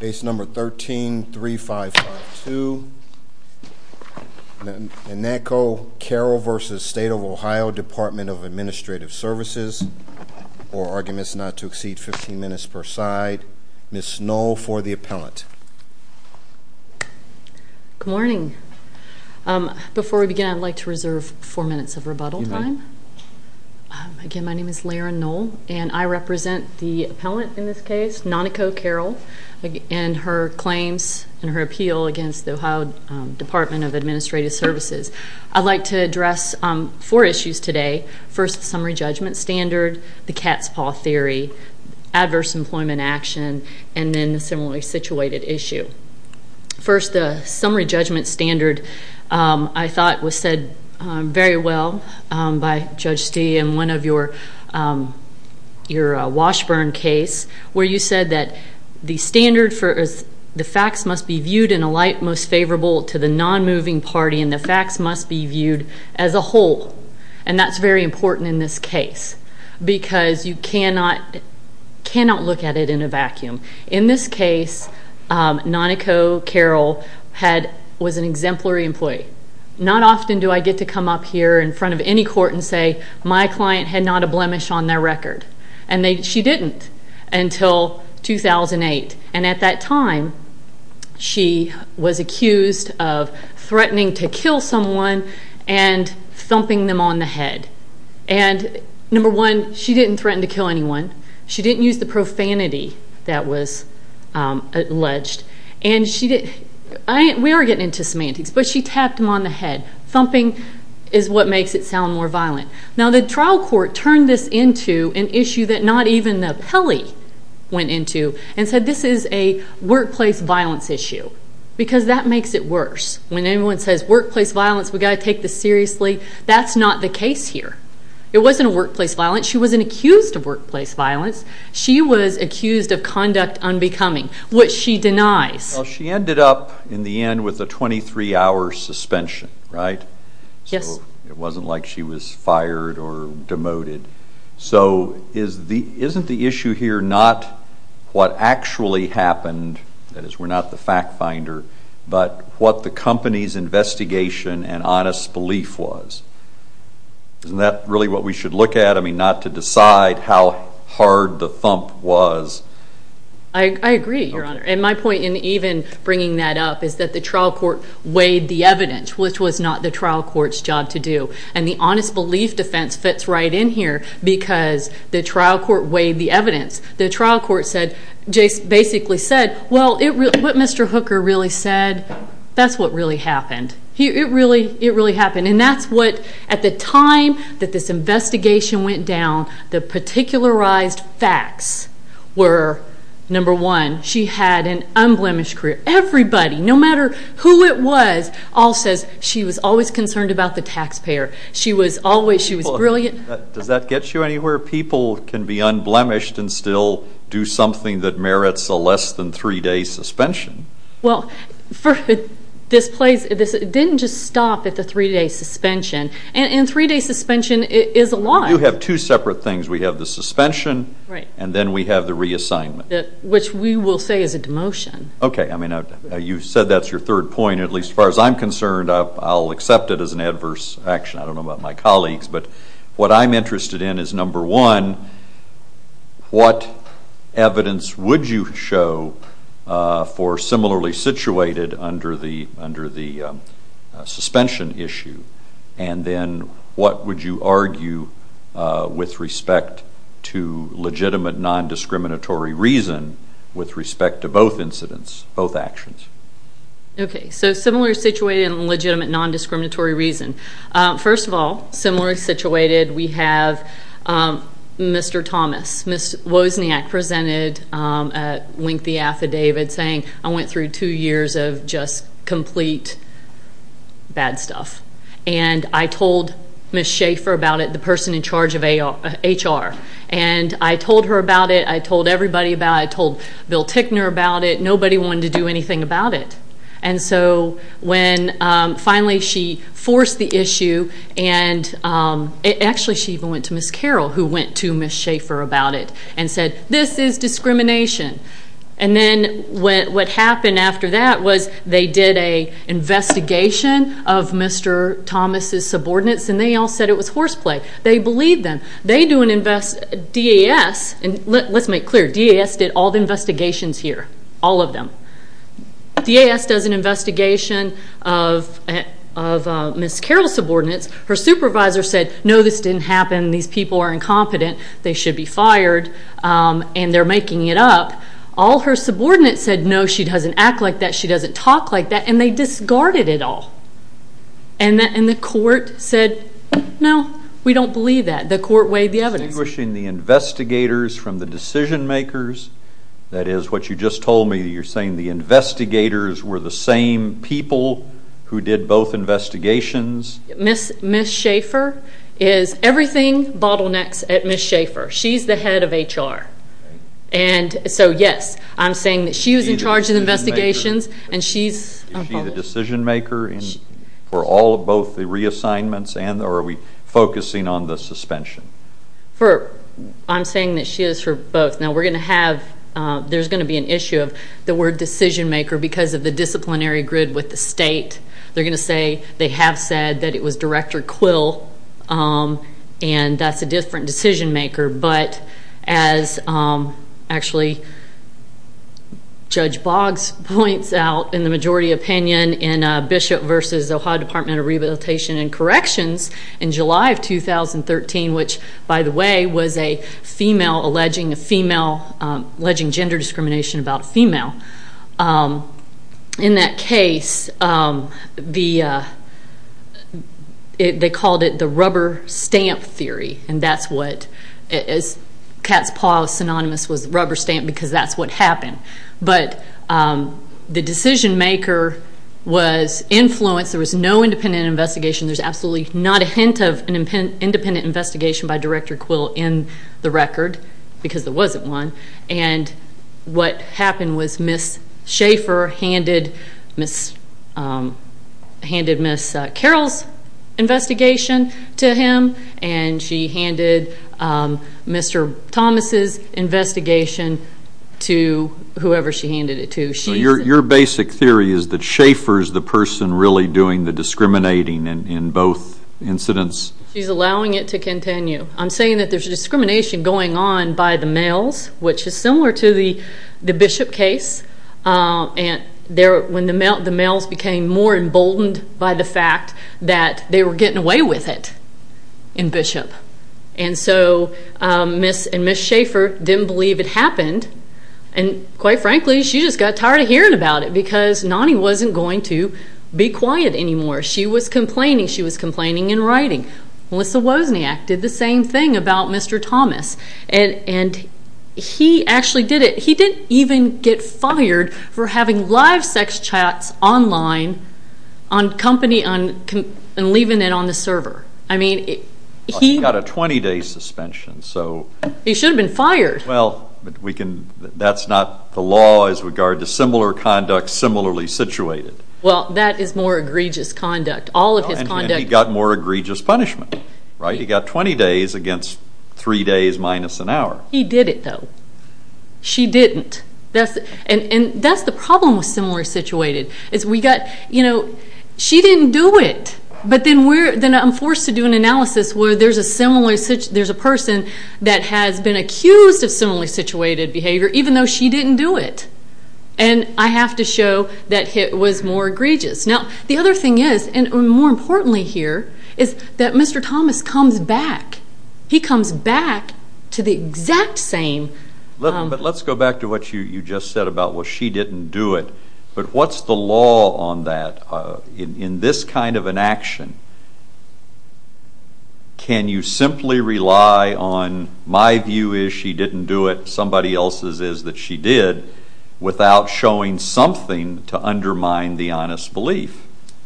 Department of Administrative Services, or arguments not to exceed 15 minutes per side. Ms. Knoll for the appellant. Good morning. Before we begin, I'd like to reserve four minutes of rebuttal time. Again, my name is Laira Knoll, and I represent the appellant in this case, Noniko Carroll, and her claims and her appeal against the Ohio Department of Administrative Services. I'd like to address four issues today. First, the summary judgment standard, the cat's paw theory, adverse employment action, and then the similarly situated issue. First, the summary judgment standard I thought was said very well by Judge Stee, in one of your Washburn case, where you said that the facts must be viewed in a light most favorable to the non-moving party, and the facts must be viewed as a whole. And that's very important in this case, because you cannot look at it in a vacuum. In this case, Noniko Carroll was an exemplary employee. Not often do I get to come up here in front of any court and say, my client had not a blemish on their record, and she didn't until 2008. And at that time, she was accused of threatening to kill someone and thumping them on the head. And number one, she didn't threaten to kill anyone. She didn't use the profanity that was alleged. We are getting into semantics, but she tapped them on the head. Thumping is what makes it sound more violent. Now, the trial court turned this into an issue that not even the appellee went into and said this is a workplace violence issue, because that makes it worse. When anyone says workplace violence, we've got to take this seriously, that's not the case here. It wasn't a workplace violence. She wasn't accused of workplace violence. She was accused of conduct unbecoming, which she denies. Well, she ended up in the end with a 23-hour suspension, right? Yes. So it wasn't like she was fired or demoted. So isn't the issue here not what actually happened, that is, we're not the fact finder, but what the company's investigation and honest belief was? Isn't that really what we should look at? I mean, not to decide how hard the thump was. I agree, Your Honor, and my point in even bringing that up is that the trial court weighed the evidence, which was not the trial court's job to do, and the honest belief defense fits right in here because the trial court weighed the evidence. The trial court basically said, well, what Mr. Hooker really said, that's what really happened. It really happened, and that's what, at the time that this investigation went down, the particularized facts were, number one, she had an unblemished career. Everybody, no matter who it was, all says she was always concerned about the taxpayer. She was brilliant. Does that get you anywhere? People can be unblemished and still do something that merits a less than three-day suspension. Well, for this place, it didn't just stop at the three-day suspension, and three-day suspension is a lot. We do have two separate things. We have the suspension and then we have the reassignment. Which we will say is a demotion. Okay. I mean, you said that's your third point, at least as far as I'm concerned. I'll accept it as an adverse action. I don't know about my colleagues, but what I'm interested in is, number one, what evidence would you show for similarly situated under the suspension issue? And then what would you argue with respect to legitimate non-discriminatory reason with respect to both incidents, both actions? Okay. So similar situated and legitimate non-discriminatory reason. First of all, similarly situated, we have Mr. Thomas. Ms. Wozniak presented a lengthy affidavit saying, I went through two years of just complete bad stuff. And I told Ms. Schaefer about it, the person in charge of HR. And I told her about it. I told everybody about it. I told Bill Tickner about it. Nobody wanted to do anything about it. And so when finally she forced the issue, and actually she even went to Ms. Carroll, who went to Ms. Schaefer about it, and said, this is discrimination. And then what happened after that was they did an investigation of Mr. Thomas' subordinates, and they all said it was horseplay. They believed them. They do an DAS, and let's make clear, DAS did all the investigations here, all of them. DAS does an investigation of Ms. Carroll's subordinates. Her supervisor said, no, this didn't happen. These people are incompetent. They should be fired, and they're making it up. All her subordinates said, no, she doesn't act like that. She doesn't talk like that. And they discarded it all. And the court said, no, we don't believe that. The court weighed the evidence. Are you distinguishing the investigators from the decision makers? That is what you just told me. You're saying the investigators were the same people who did both investigations. Ms. Schaefer is everything bottlenecks at Ms. Schaefer. She's the head of HR. And so, yes, I'm saying that she was in charge of the investigations, and she's involved. And for all of both the reassignments, and are we focusing on the suspension? I'm saying that she is for both. Now, we're going to have ‑‑ there's going to be an issue of the word decision maker because of the disciplinary grid with the state. They're going to say they have said that it was Director Quill, and that's a different decision maker. But as actually Judge Boggs points out in the majority opinion in Bishop v. Ohio Department of Rehabilitation and Corrections in July of 2013, which, by the way, was a female alleging gender discrimination about a female. In that case, they called it the rubber stamp theory, and that's what is cat's paw synonymous with rubber stamp because that's what happened. But the decision maker was influenced. There was no independent investigation. There's absolutely not a hint of an independent investigation by Director Quill in the record because there wasn't one. And what happened was Ms. Schaefer handed Ms. Carroll's investigation to him, and she handed Mr. Thomas' investigation to whoever she handed it to. Your basic theory is that Schaefer is the person really doing the discriminating in both incidents? She's allowing it to continue. I'm saying that there's discrimination going on by the males, which is similar to the Bishop case. When the males became more emboldened by the fact that they were getting away with it in Bishop, and so Ms. and Ms. Schaefer didn't believe it happened, and quite frankly, she just got tired of hearing about it because Nonnie wasn't going to be quiet anymore. She was complaining. She was complaining in writing. Melissa Wozniak did the same thing about Mr. Thomas, and he actually did it. He was fired for having live sex chats online and leaving it on the server. He got a 20-day suspension. He should have been fired. Well, that's not the law as regards to similar conduct, similarly situated. Well, that is more egregious conduct. And he got more egregious punishment. He got 20 days against three days minus an hour. He did it, though. She didn't. And that's the problem with similarly situated, is we got, you know, she didn't do it. But then I'm forced to do an analysis where there's a person that has been accused of similarly situated behavior, even though she didn't do it. And I have to show that it was more egregious. Now, the other thing is, and more importantly here, is that Mr. Thomas comes back. He comes back to the exact same. But let's go back to what you just said about, well, she didn't do it. But what's the law on that? In this kind of an action, can you simply rely on my view is she didn't do it, somebody else's is that she did, without showing something to undermine the honest belief?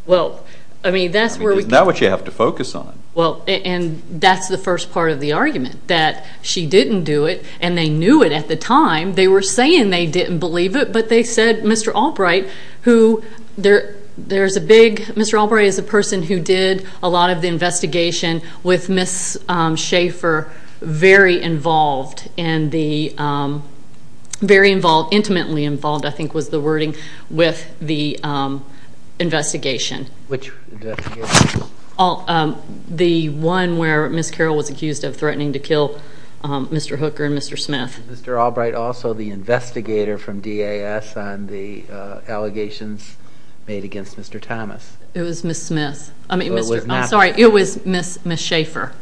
Well, I mean, that's where we can. Isn't that what you have to focus on? Well, and that's the first part of the argument, that she didn't do it, and they knew it at the time. They were saying they didn't believe it, but they said Mr. Albright, who there's a big, Mr. Albright is a person who did a lot of the investigation with Ms. Schaefer very involved, and the very involved, intimately involved, I think was the wording, with the investigation. Which investigation? The one where Ms. Carroll was accused of threatening to kill Mr. Hooker and Mr. Smith. Was Mr. Albright also the investigator from DAS on the allegations made against Mr. Thomas? It was Ms. Schaefer.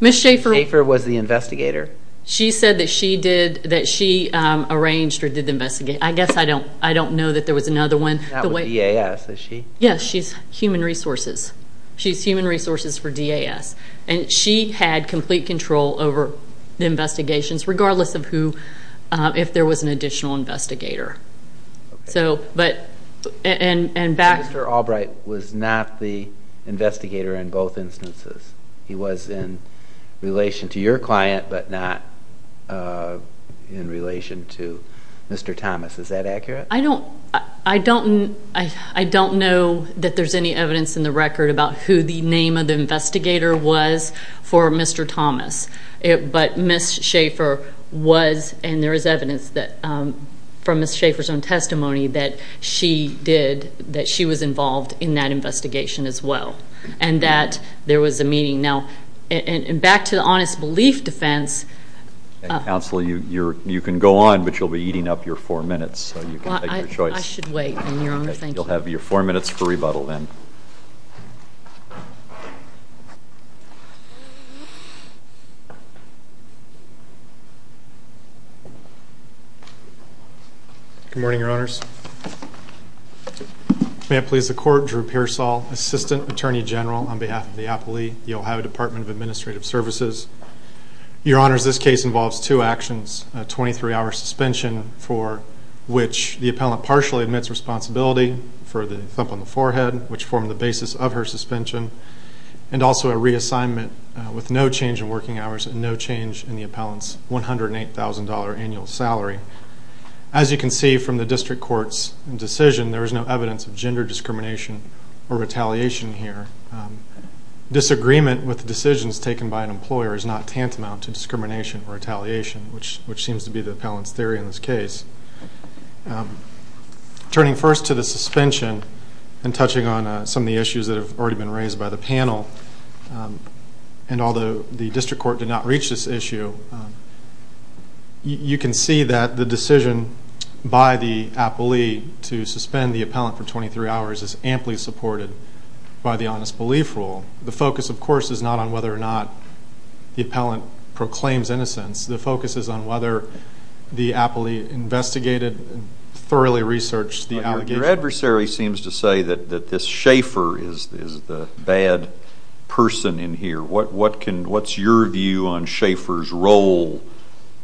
Ms. Schaefer was the investigator? She said that she arranged or did the investigation. I guess I don't know that there was another one. Not with DAS, is she? Yes, she's Human Resources. She's Human Resources for DAS, and she had complete control over the investigations, regardless of who, if there was an additional investigator. So, but, and back. So Mr. Albright was not the investigator in both instances. He was in relation to your client, but not in relation to Mr. Thomas. Is that accurate? I don't know that there's any evidence in the record about who the name of the investigator was for Mr. Thomas, but Ms. Schaefer was, and there is evidence from Ms. Schaefer's own testimony that she did, that she was involved in that investigation as well, and that there was a meeting. Now, and back to the honest belief defense. Counsel, you can go on, but you'll be eating up your four minutes, so you can make your choice. I should wait, Your Honor. Thank you. You'll have your four minutes for rebuttal then. Good morning, Your Honors. May it please the Court, Drew Pearsall, Assistant Attorney General on behalf of the Appley, the Ohio Department of Administrative Services. Your Honors, this case involves two actions, a 23-hour suspension for which the appellant partially admits responsibility for the thump on the forehead, which formed the basis of her suspension, and also a reassignment with no change in working hours and no change in the appellant's $108,000 annual salary. As you can see from the district court's decision, there is no evidence of gender discrimination or retaliation here. Disagreement with decisions taken by an employer is not tantamount to discrimination or retaliation, which seems to be the appellant's theory in this case. Turning first to the suspension and touching on some of the issues that have already been raised by the panel, and although the district court did not reach this issue, you can see that the decision by the appellee to suspend the appellant for 23 hours is amply supported by the honest belief rule. The focus, of course, is not on whether or not the appellant proclaims innocence. The focus is on whether the appellee investigated and thoroughly researched the allegations. Your adversary seems to say that this Schaefer is the bad person in here. What's your view on Schaefer's role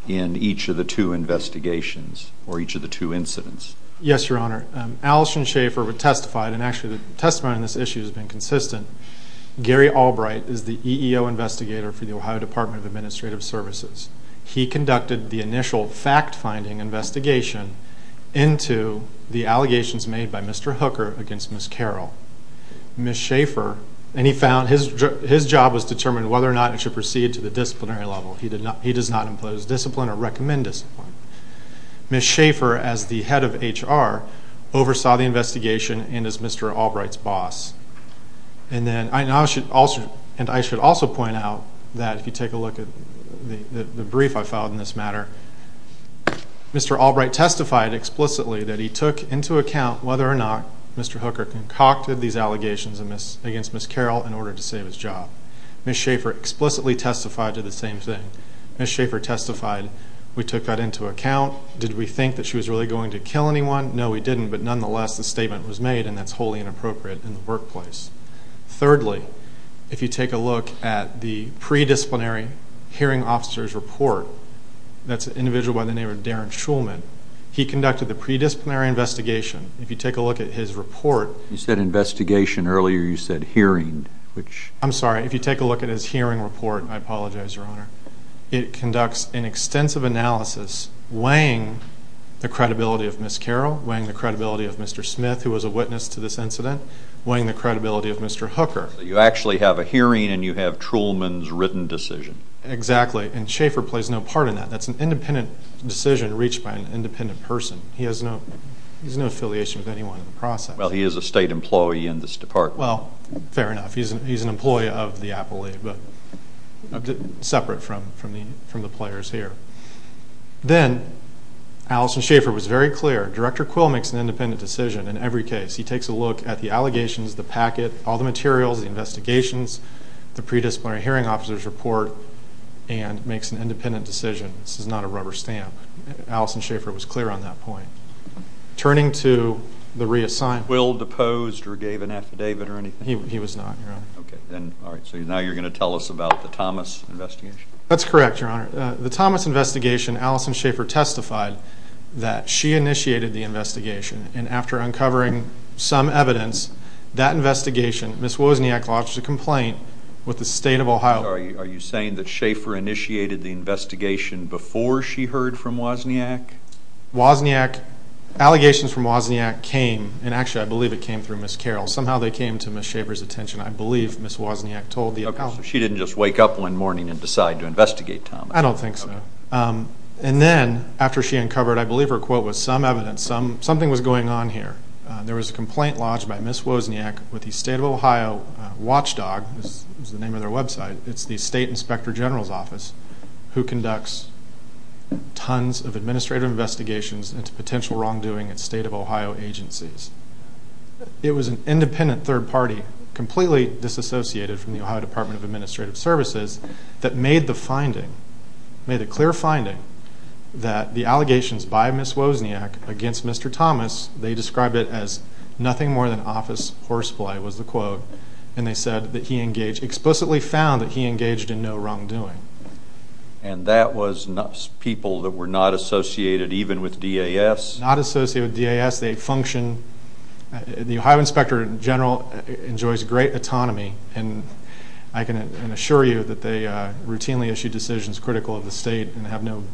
in each of the two investigations or each of the two incidents? Yes, Your Honor. Allison Schaefer testified, and actually the testimony on this issue has been consistent. Gary Albright is the EEO investigator for the Ohio Department of Administrative Services. He conducted the initial fact-finding investigation into the allegations made by Mr. Hooker against Ms. Carroll. Ms. Schaefer, and he found his job was to determine whether or not he should proceed to the disciplinary level. He does not impose discipline or recommend discipline. Ms. Schaefer, as the head of HR, oversaw the investigation and is Mr. Albright's boss. And I should also point out that if you take a look at the brief I filed in this matter, Mr. Albright testified explicitly that he took into account whether or not Mr. Hooker concocted these allegations against Ms. Carroll in order to save his job. Ms. Schaefer explicitly testified to the same thing. Ms. Schaefer testified, we took that into account. Did we think that she was really going to kill anyone? No, we didn't, but nonetheless the statement was made, and that's wholly inappropriate in the workplace. Thirdly, if you take a look at the predisciplinary hearing officer's report, that's an individual by the name of Darren Shulman. He conducted the predisciplinary investigation. If you take a look at his report... You said investigation earlier, you said hearing, which... I'm sorry, if you take a look at his hearing report, I apologize, Your Honor, it conducts an extensive analysis weighing the credibility of Ms. Carroll, weighing the credibility of Mr. Smith, who was a witness to this incident, weighing the credibility of Mr. Hooker. So you actually have a hearing and you have Shulman's written decision. Exactly, and Schaefer plays no part in that. That's an independent decision reached by an independent person. He has no affiliation with anyone in the process. Well, he is a state employee in this department. Well, fair enough. He's an employee of the appellate, but separate from the players here. Then, Allison Schaefer was very clear. Director Quill makes an independent decision in every case. He takes a look at the allegations, the packet, all the materials, the investigations, the predisciplinary hearing officer's report, and makes an independent decision. This is not a rubber stamp. Allison Schaefer was clear on that point. Turning to the reassignment... Quill deposed or gave an affidavit or anything? He was not, Your Honor. Okay. All right, so now you're going to tell us about the Thomas investigation? That's correct, Your Honor. The Thomas investigation, Allison Schaefer testified that she initiated the investigation, and after uncovering some evidence, that investigation, Ms. Wozniak lodged a complaint with the state of Ohio. Are you saying that Schaefer initiated the investigation before she heard from Wozniak? Wozniak, allegations from Wozniak came, and actually I believe it came through Ms. Carroll. Somehow they came to Ms. Schaefer's attention. I believe Ms. Wozniak told the appellate. Okay, so she didn't just wake up one morning and decide to investigate Thomas. I don't think so. And then after she uncovered, I believe her quote was, some evidence, something was going on here. There was a complaint lodged by Ms. Wozniak with the state of Ohio watchdog, this is the name of their website, it's the State Inspector General's Office, who conducts tons of administrative investigations into potential wrongdoing at state of Ohio agencies. It was an independent third party, completely disassociated from the Ohio Department of Administrative Services, that made the finding, made a clear finding, that the allegations by Ms. Wozniak against Mr. Thomas, they described it as nothing more than office horseplay, was the quote, and they said that he engaged, explicitly found that he engaged in no wrongdoing. And that was people that were not associated even with DAS? Not associated with DAS, they function, the Ohio Inspector General enjoys great autonomy, and I can assure you that they routinely issue decisions critical of the state and have no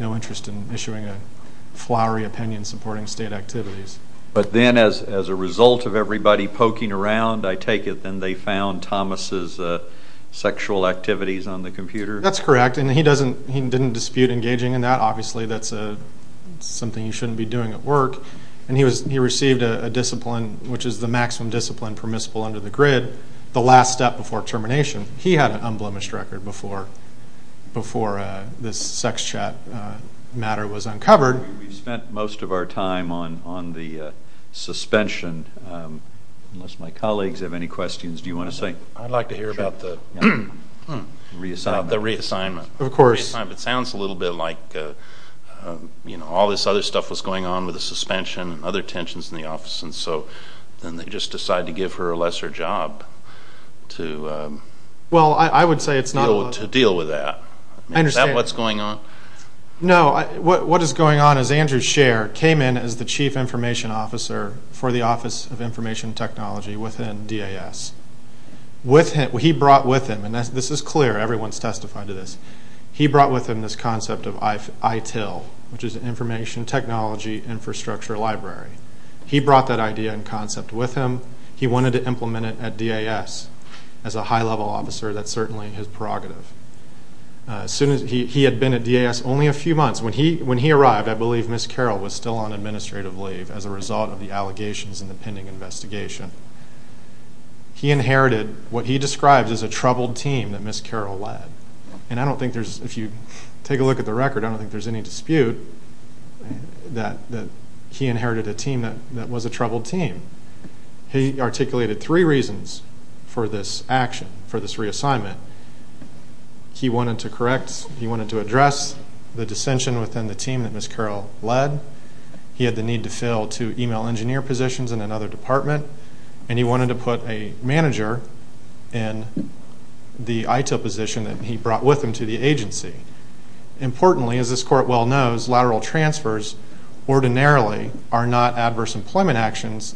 interest in issuing a flowery opinion supporting state activities. But then as a result of everybody poking around, I take it, then they found Thomas' sexual activities on the computer? That's correct, and he didn't dispute engaging in that, obviously that's something you shouldn't be doing at work, and he received a discipline, which is the maximum discipline permissible under the grid, the last step before termination. He had an unblemished record before this sex chat matter was uncovered. We've spent most of our time on the suspension, unless my colleagues have any questions, do you want to say? I'd like to hear about the reassignment. The reassignment. Of course. It sounds a little bit like all this other stuff was going on with the suspension and other tensions in the office, and so then they just decide to give her a lesser job to deal with that. Is that what's going on? No, what is going on is Andrew Sherr came in as the Chief Information Officer for the Office of Information Technology within DAS. He brought with him, and this is clear, everyone's testified to this, he brought with him this concept of ITIL, which is Information Technology Infrastructure Library. He brought that idea and concept with him. He wanted to implement it at DAS. As a high-level officer, that's certainly his prerogative. He had been at DAS only a few months. When he arrived, I believe Ms. Carroll was still on administrative leave as a result of the allegations in the pending investigation. He inherited what he described as a troubled team that Ms. Carroll led, and I don't think there's, if you take a look at the record, I don't think there's any dispute that he inherited a team that was a troubled team. He articulated three reasons for this action, for this reassignment. He wanted to correct, he wanted to address the dissension within the team that Ms. Carroll led. He had the need to fill two email engineer positions in another department, and he wanted to put a manager in the ITIL position that he brought with him to the agency. Importantly, as this court well knows, lateral transfers ordinarily are not adverse employment actions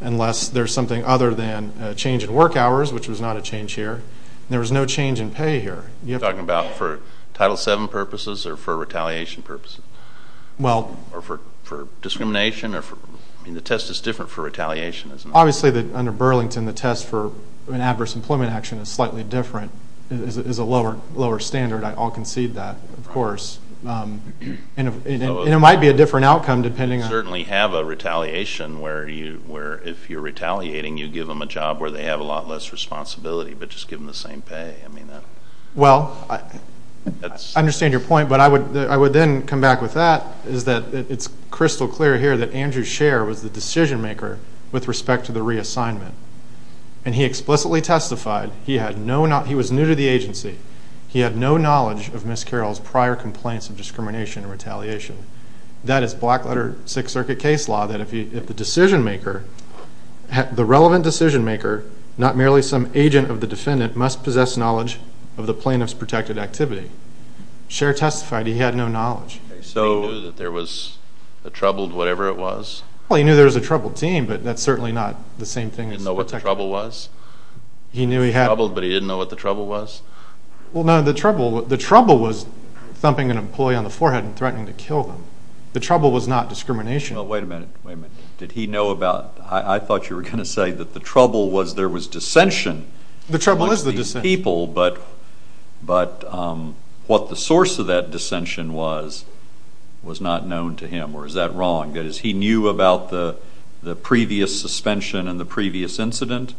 unless there's something other than a change in work hours, which was not a change here. There was no change in pay here. You're talking about for Title VII purposes or for retaliation purposes? Well. Or for discrimination? I mean, the test is different for retaliation, isn't it? Obviously, under Burlington, the test for an adverse employment action is slightly different. It is a lower standard. I all concede that, of course. And it might be a different outcome depending on. You certainly have a retaliation where if you're retaliating, you give them a job where they have a lot less responsibility, but just give them the same pay. I mean, that. Well, I understand your point, but I would then come back with that, is that it's crystal clear here that Andrew Scherr was the decision maker with respect to the reassignment, and he explicitly testified. He was new to the agency. He had no knowledge of Ms. Carroll's prior complaints of discrimination and retaliation. That is black-letter Sixth Circuit case law, that if the decision maker, the relevant decision maker, not merely some agent of the defendant, must possess knowledge of the plaintiff's protected activity. Scherr testified he had no knowledge. So he knew that there was a troubled whatever it was? Well, he knew there was a troubled team, but that's certainly not the same thing. He didn't know what the trouble was? He knew he had a troubled, but he didn't know what the trouble was? Well, no. The trouble was thumping an employee on the forehead and threatening to kill them. The trouble was not discrimination. Well, wait a minute. Wait a minute. Did he know about? I thought you were going to say that the trouble was there was dissension amongst these people, but what the source of that dissension was was not known to him, or is that wrong? That is, he knew about the previous suspension and the previous incident?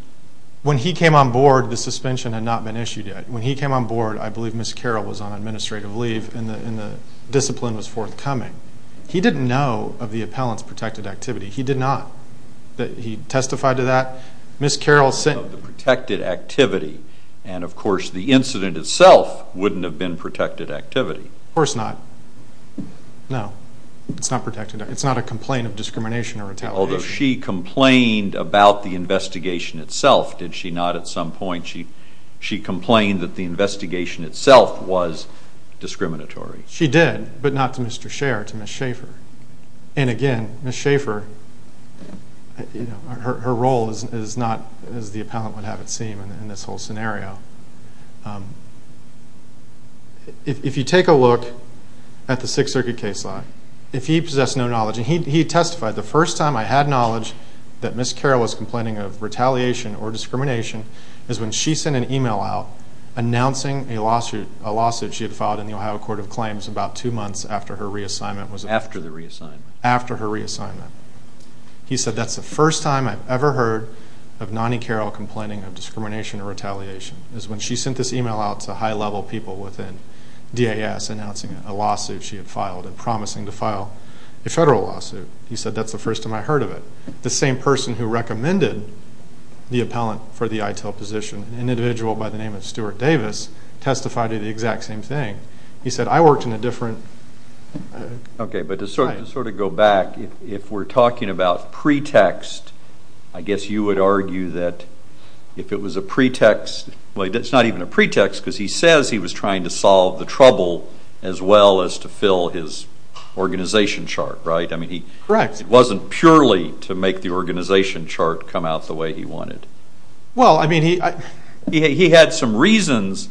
When he came on board, the suspension had not been issued yet. When he came on board, I believe Ms. Carroll was on administrative leave and the discipline was forthcoming. He didn't know of the appellant's protected activity. He did not. He testified to that. Ms. Carroll said... Of the protected activity. And, of course, the incident itself wouldn't have been protected activity. Of course not. No. It's not protected. It's not a complaint of discrimination or retaliation. Although she complained about the investigation itself, did she not at some point? She complained that the investigation itself was discriminatory. She did, but not to Mr. Scher, to Ms. Schaefer. And, again, Ms. Schaefer, her role is not as the appellant would have it seem in this whole scenario. If you take a look at the Sixth Circuit case law, if he possessed no knowledge... He testified... The first time I had knowledge that Ms. Carroll was complaining of retaliation or discrimination is when she sent an email out announcing a lawsuit she had filed in the Ohio Court of Claims about two months after her reassignment. After the reassignment. After her reassignment. He said, that's the first time I've ever heard of Nonnie Carroll complaining of discrimination or retaliation is when she sent this email out to high-level people within DAS announcing a lawsuit she had filed and promising to file a federal lawsuit. He said, that's the first time I heard of it. The same person who recommended the appellant for the ITIL position, an individual by the name of Stuart Davis, testified to the exact same thing. He said, I worked in a different... Okay, but to sort of go back, if we're talking about pretext, I guess you would argue that if it was a pretext... Well, it's not even a pretext because he says he was trying to solve the trouble as well as to fill his organization chart, right? Correct. It wasn't purely to make the organization chart come out the way he wanted. Well, I mean, he had some reasons,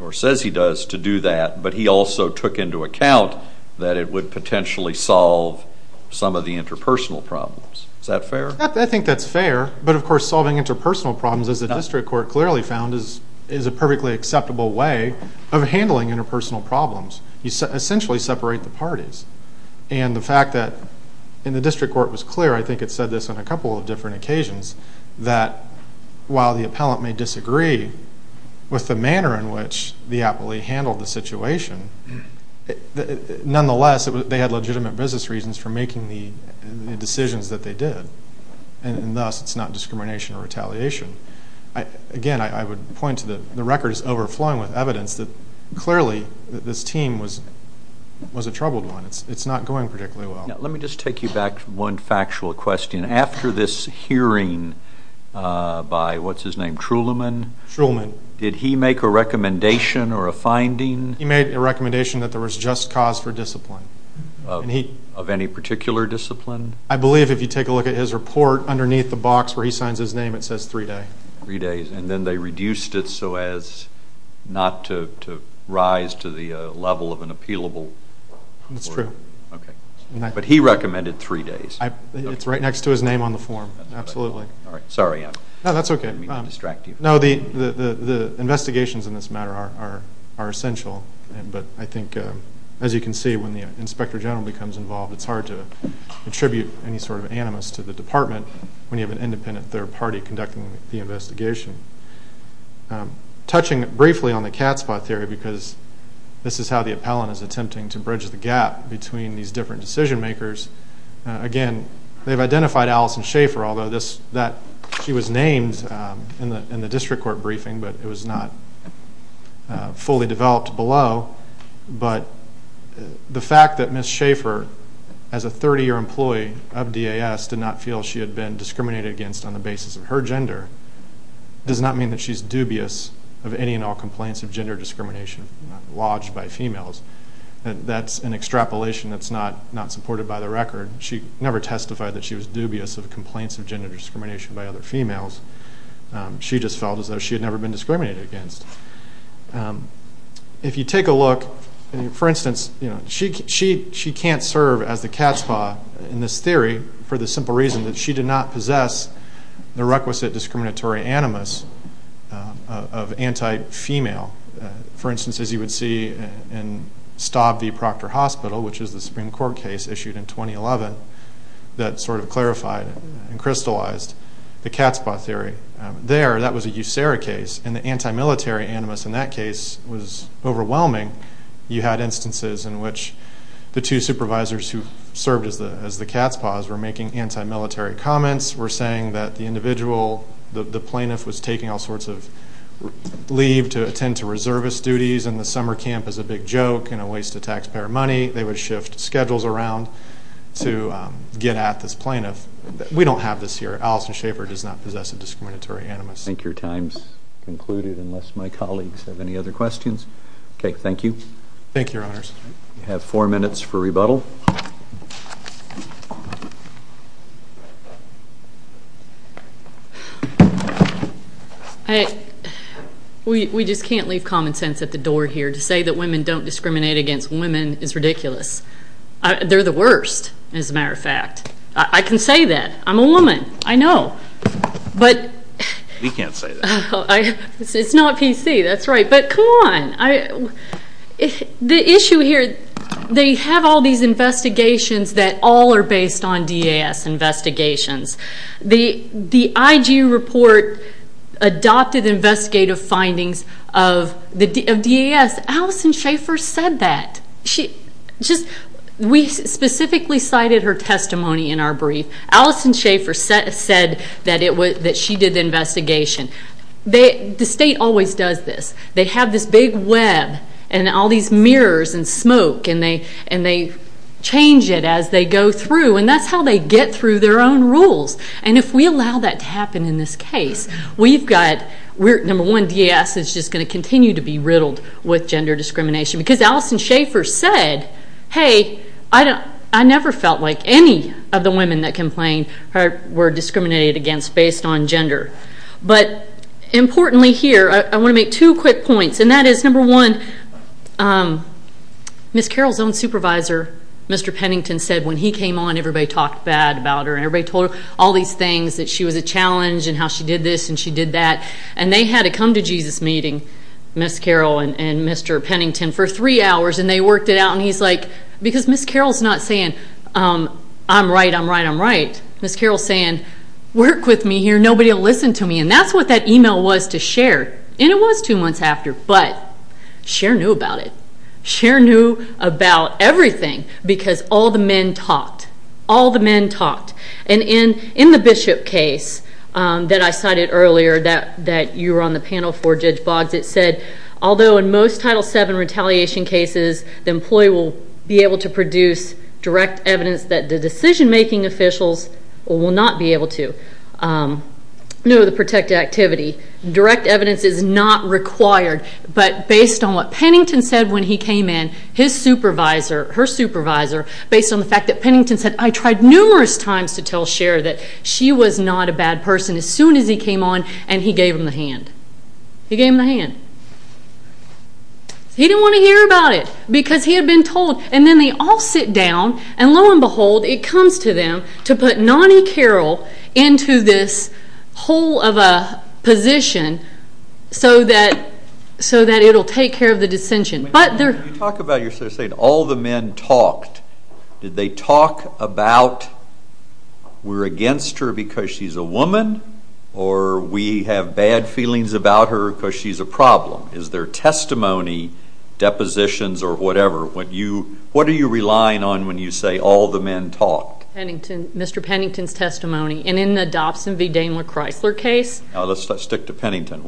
or says he does, to do that, but he also took into account that it would potentially solve some of the interpersonal problems. Is that fair? I think that's fair. But, of course, solving interpersonal problems, as the district court clearly found, is a perfectly acceptable way of handling interpersonal problems. You essentially separate the parties. And the fact that, and the district court was clear, I think it said this on a couple of different occasions, that while the appellant may disagree with the manner in which the appellee handled the situation, nonetheless, they had legitimate business reasons for making the decisions that they did. And, thus, it's not discrimination or retaliation. Again, I would point to the record is overflowing with evidence that, clearly, this team was a troubled one. It's not going particularly well. Let me just take you back to one factual question. After this hearing by, what's his name, Truelman? Truelman. Did he make a recommendation or a finding? He made a recommendation that there was just cause for discipline. Of any particular discipline? I believe, if you take a look at his report, underneath the box where he signs his name, it says three days. Three days. And then they reduced it so as not to rise to the level of an appealable. That's true. Okay. But he recommended three days. It's right next to his name on the form. Absolutely. Sorry. No, that's okay. I didn't mean to distract you. No, the investigations in this matter are essential. But I think, as you can see, when the inspector general becomes involved, it's hard to attribute any sort of animus to the department when you have an independent third party conducting the investigation. Touching briefly on the cat spot theory, because this is how the appellant is attempting to bridge the gap between these different decision makers, again, they've identified Allison Schaefer, although she was named in the district court briefing, but it was not fully developed below. But the fact that Ms. Schaefer, as a 30-year employee of DAS, did not feel she had been discriminated against on the basis of her gender does not mean that she's dubious of any and all complaints of gender discrimination lodged by females. That's an extrapolation that's not supported by the record. She never testified that she was dubious of complaints of gender discrimination by other females. She just felt as though she had never been discriminated against. If you take a look, for instance, she can't serve as the cat's paw in this theory for the simple reason that she did not possess the requisite discriminatory animus of anti-female. For instance, as you would see in Staub v. Proctor Hospital, which is the Supreme Court case issued in 2011 that sort of clarified and crystallized the cat's paw theory. There, that was a USERA case, and the anti-military animus in that case was overwhelming. You had instances in which the two supervisors who served as the cat's paws were making anti-military comments, were saying that the individual, the plaintiff, was taking all sorts of leave to attend to reservist duties, and the summer camp is a big joke and a waste of taxpayer money. They would shift schedules around to get at this plaintiff. We don't have this here. Allison Schaefer does not possess a discriminatory animus. I think your time's concluded unless my colleagues have any other questions. Okay, thank you. Thank you, Your Honors. You have four minutes for rebuttal. We just can't leave common sense at the door here. To say that women don't discriminate against women is ridiculous. They're the worst, as a matter of fact. I can say that. I'm a woman. I know. We can't say that. It's not PC. That's right. But come on. The issue here, they have all these investigations that all are based on DAS investigations. The IG report adopted investigative findings of DAS. Allison Schaefer said that. We specifically cited her testimony in our brief. Allison Schaefer said that she did the investigation. The state always does this. They have this big web and all these mirrors and smoke, and they change it as they go through, and that's how they get through their own rules. And if we allow that to happen in this case, we've got, number one, DAS is just going to continue to be riddled with gender discrimination because Allison Schaefer said, hey, I never felt like any of the women that complained were discriminated against based on gender. But importantly here, I want to make two quick points, and that is, number one, Ms. Carroll's own supervisor, Mr. Pennington, said when he came on everybody talked bad about her and everybody told her all these things that she was a challenge and how she did this and she did that. And they had to come to Jesus Meeting, Ms. Carroll and Mr. Pennington, for three hours, and they worked it out. And he's like, because Ms. Carroll's not saying, I'm right, I'm right, I'm right. Ms. Carroll's saying, work with me here, nobody will listen to me. And that's what that email was to Cher. And it was two months after, but Cher knew about it. Cher knew about everything because all the men talked. All the men talked. And in the Bishop case that I cited earlier that you were on the panel for, Judge Boggs, it said, although in most Title VII retaliation cases, the employee will be able to produce direct evidence that the decision-making officials will not be able to. No, the protected activity. Direct evidence is not required. But based on what Pennington said when he came in, his supervisor, her supervisor, based on the fact that Pennington said, I tried numerous times to tell Cher that she was not a bad person as soon as he came on, and he gave him the hand. He gave him the hand. He didn't want to hear about it because he had been told. And then they all sit down, and lo and behold, it comes to them to put Nonnie Carroll into this hole of a position so that it will take care of the dissension. You talk about yourself saying all the men talked. Did they talk about we're against her because she's a woman or we have bad feelings about her because she's a problem? Is there testimony, depositions, or whatever? What are you relying on when you say all the men talked? Mr. Pennington's testimony. And in the Dobson v. Daimler-Chrysler case. Let's stick to Pennington.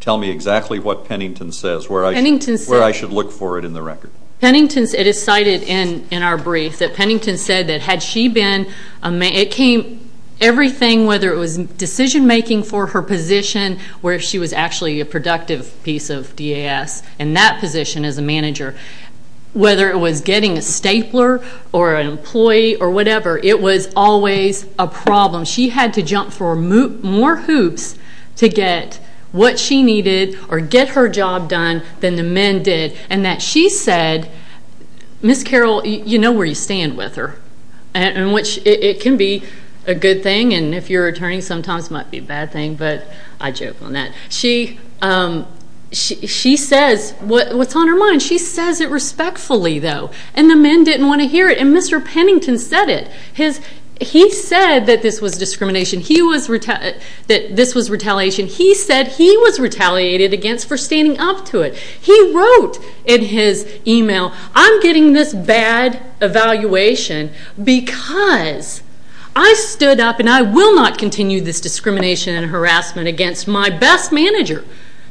Tell me exactly what Pennington says where I should look for it in the record. It is cited in our brief that Pennington said that had she been a man, it came everything whether it was decision-making for her position or if she was actually a productive piece of DAS in that position as a manager. Whether it was getting a stapler or an employee or whatever, it was always a problem. She had to jump for more hoops to get what she needed or get her job done than the men did. And that she said, Ms. Carroll, you know where you stand with her. I think sometimes it might be a bad thing, but I joke on that. She says what's on her mind. She says it respectfully, though, and the men didn't want to hear it. And Mr. Pennington said it. He said that this was retaliation. He said he was retaliated against for standing up to it. He wrote in his email, I'm getting this bad evaluation because I stood up and I will not continue this discrimination and harassment against my best manager.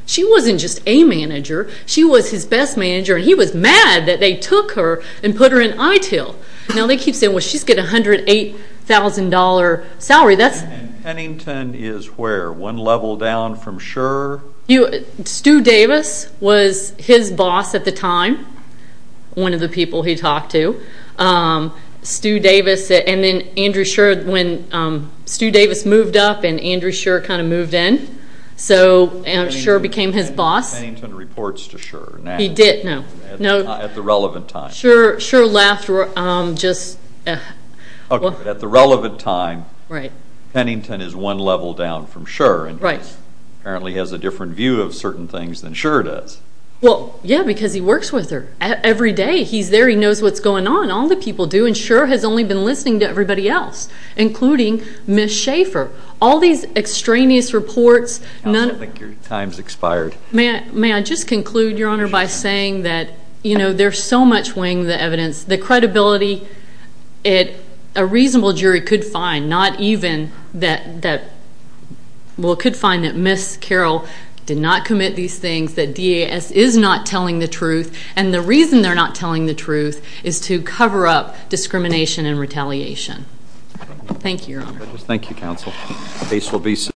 She wasn't just a manager. She was his best manager, and he was mad that they took her and put her in ITIL. Now they keep saying, well, she's getting a $108,000 salary. And Pennington is where? One level down from Schur? Stu Davis was his boss at the time, one of the people he talked to. Stu Davis moved up, and Andrew Schur kind of moved in. So Schur became his boss. Pennington reports to Schur now. He did, no. At the relevant time. Schur left. At the relevant time, Pennington is one level down from Schur and apparently has a different view of certain things than Schur does. Well, yeah, because he works with her every day. He's there. He knows what's going on. All the people do, and Schur has only been listening to everybody else, including Ms. Schafer. All these extraneous reports. I don't think your time's expired. May I just conclude, Your Honor, by saying that there's so much weighing the evidence, the credibility a reasonable jury could find, not even that Ms. Carroll did not commit these things, that DAS is not telling the truth, and the reason they're not telling the truth is to cover up discrimination and retaliation. Thank you, Your Honor. Thank you, counsel.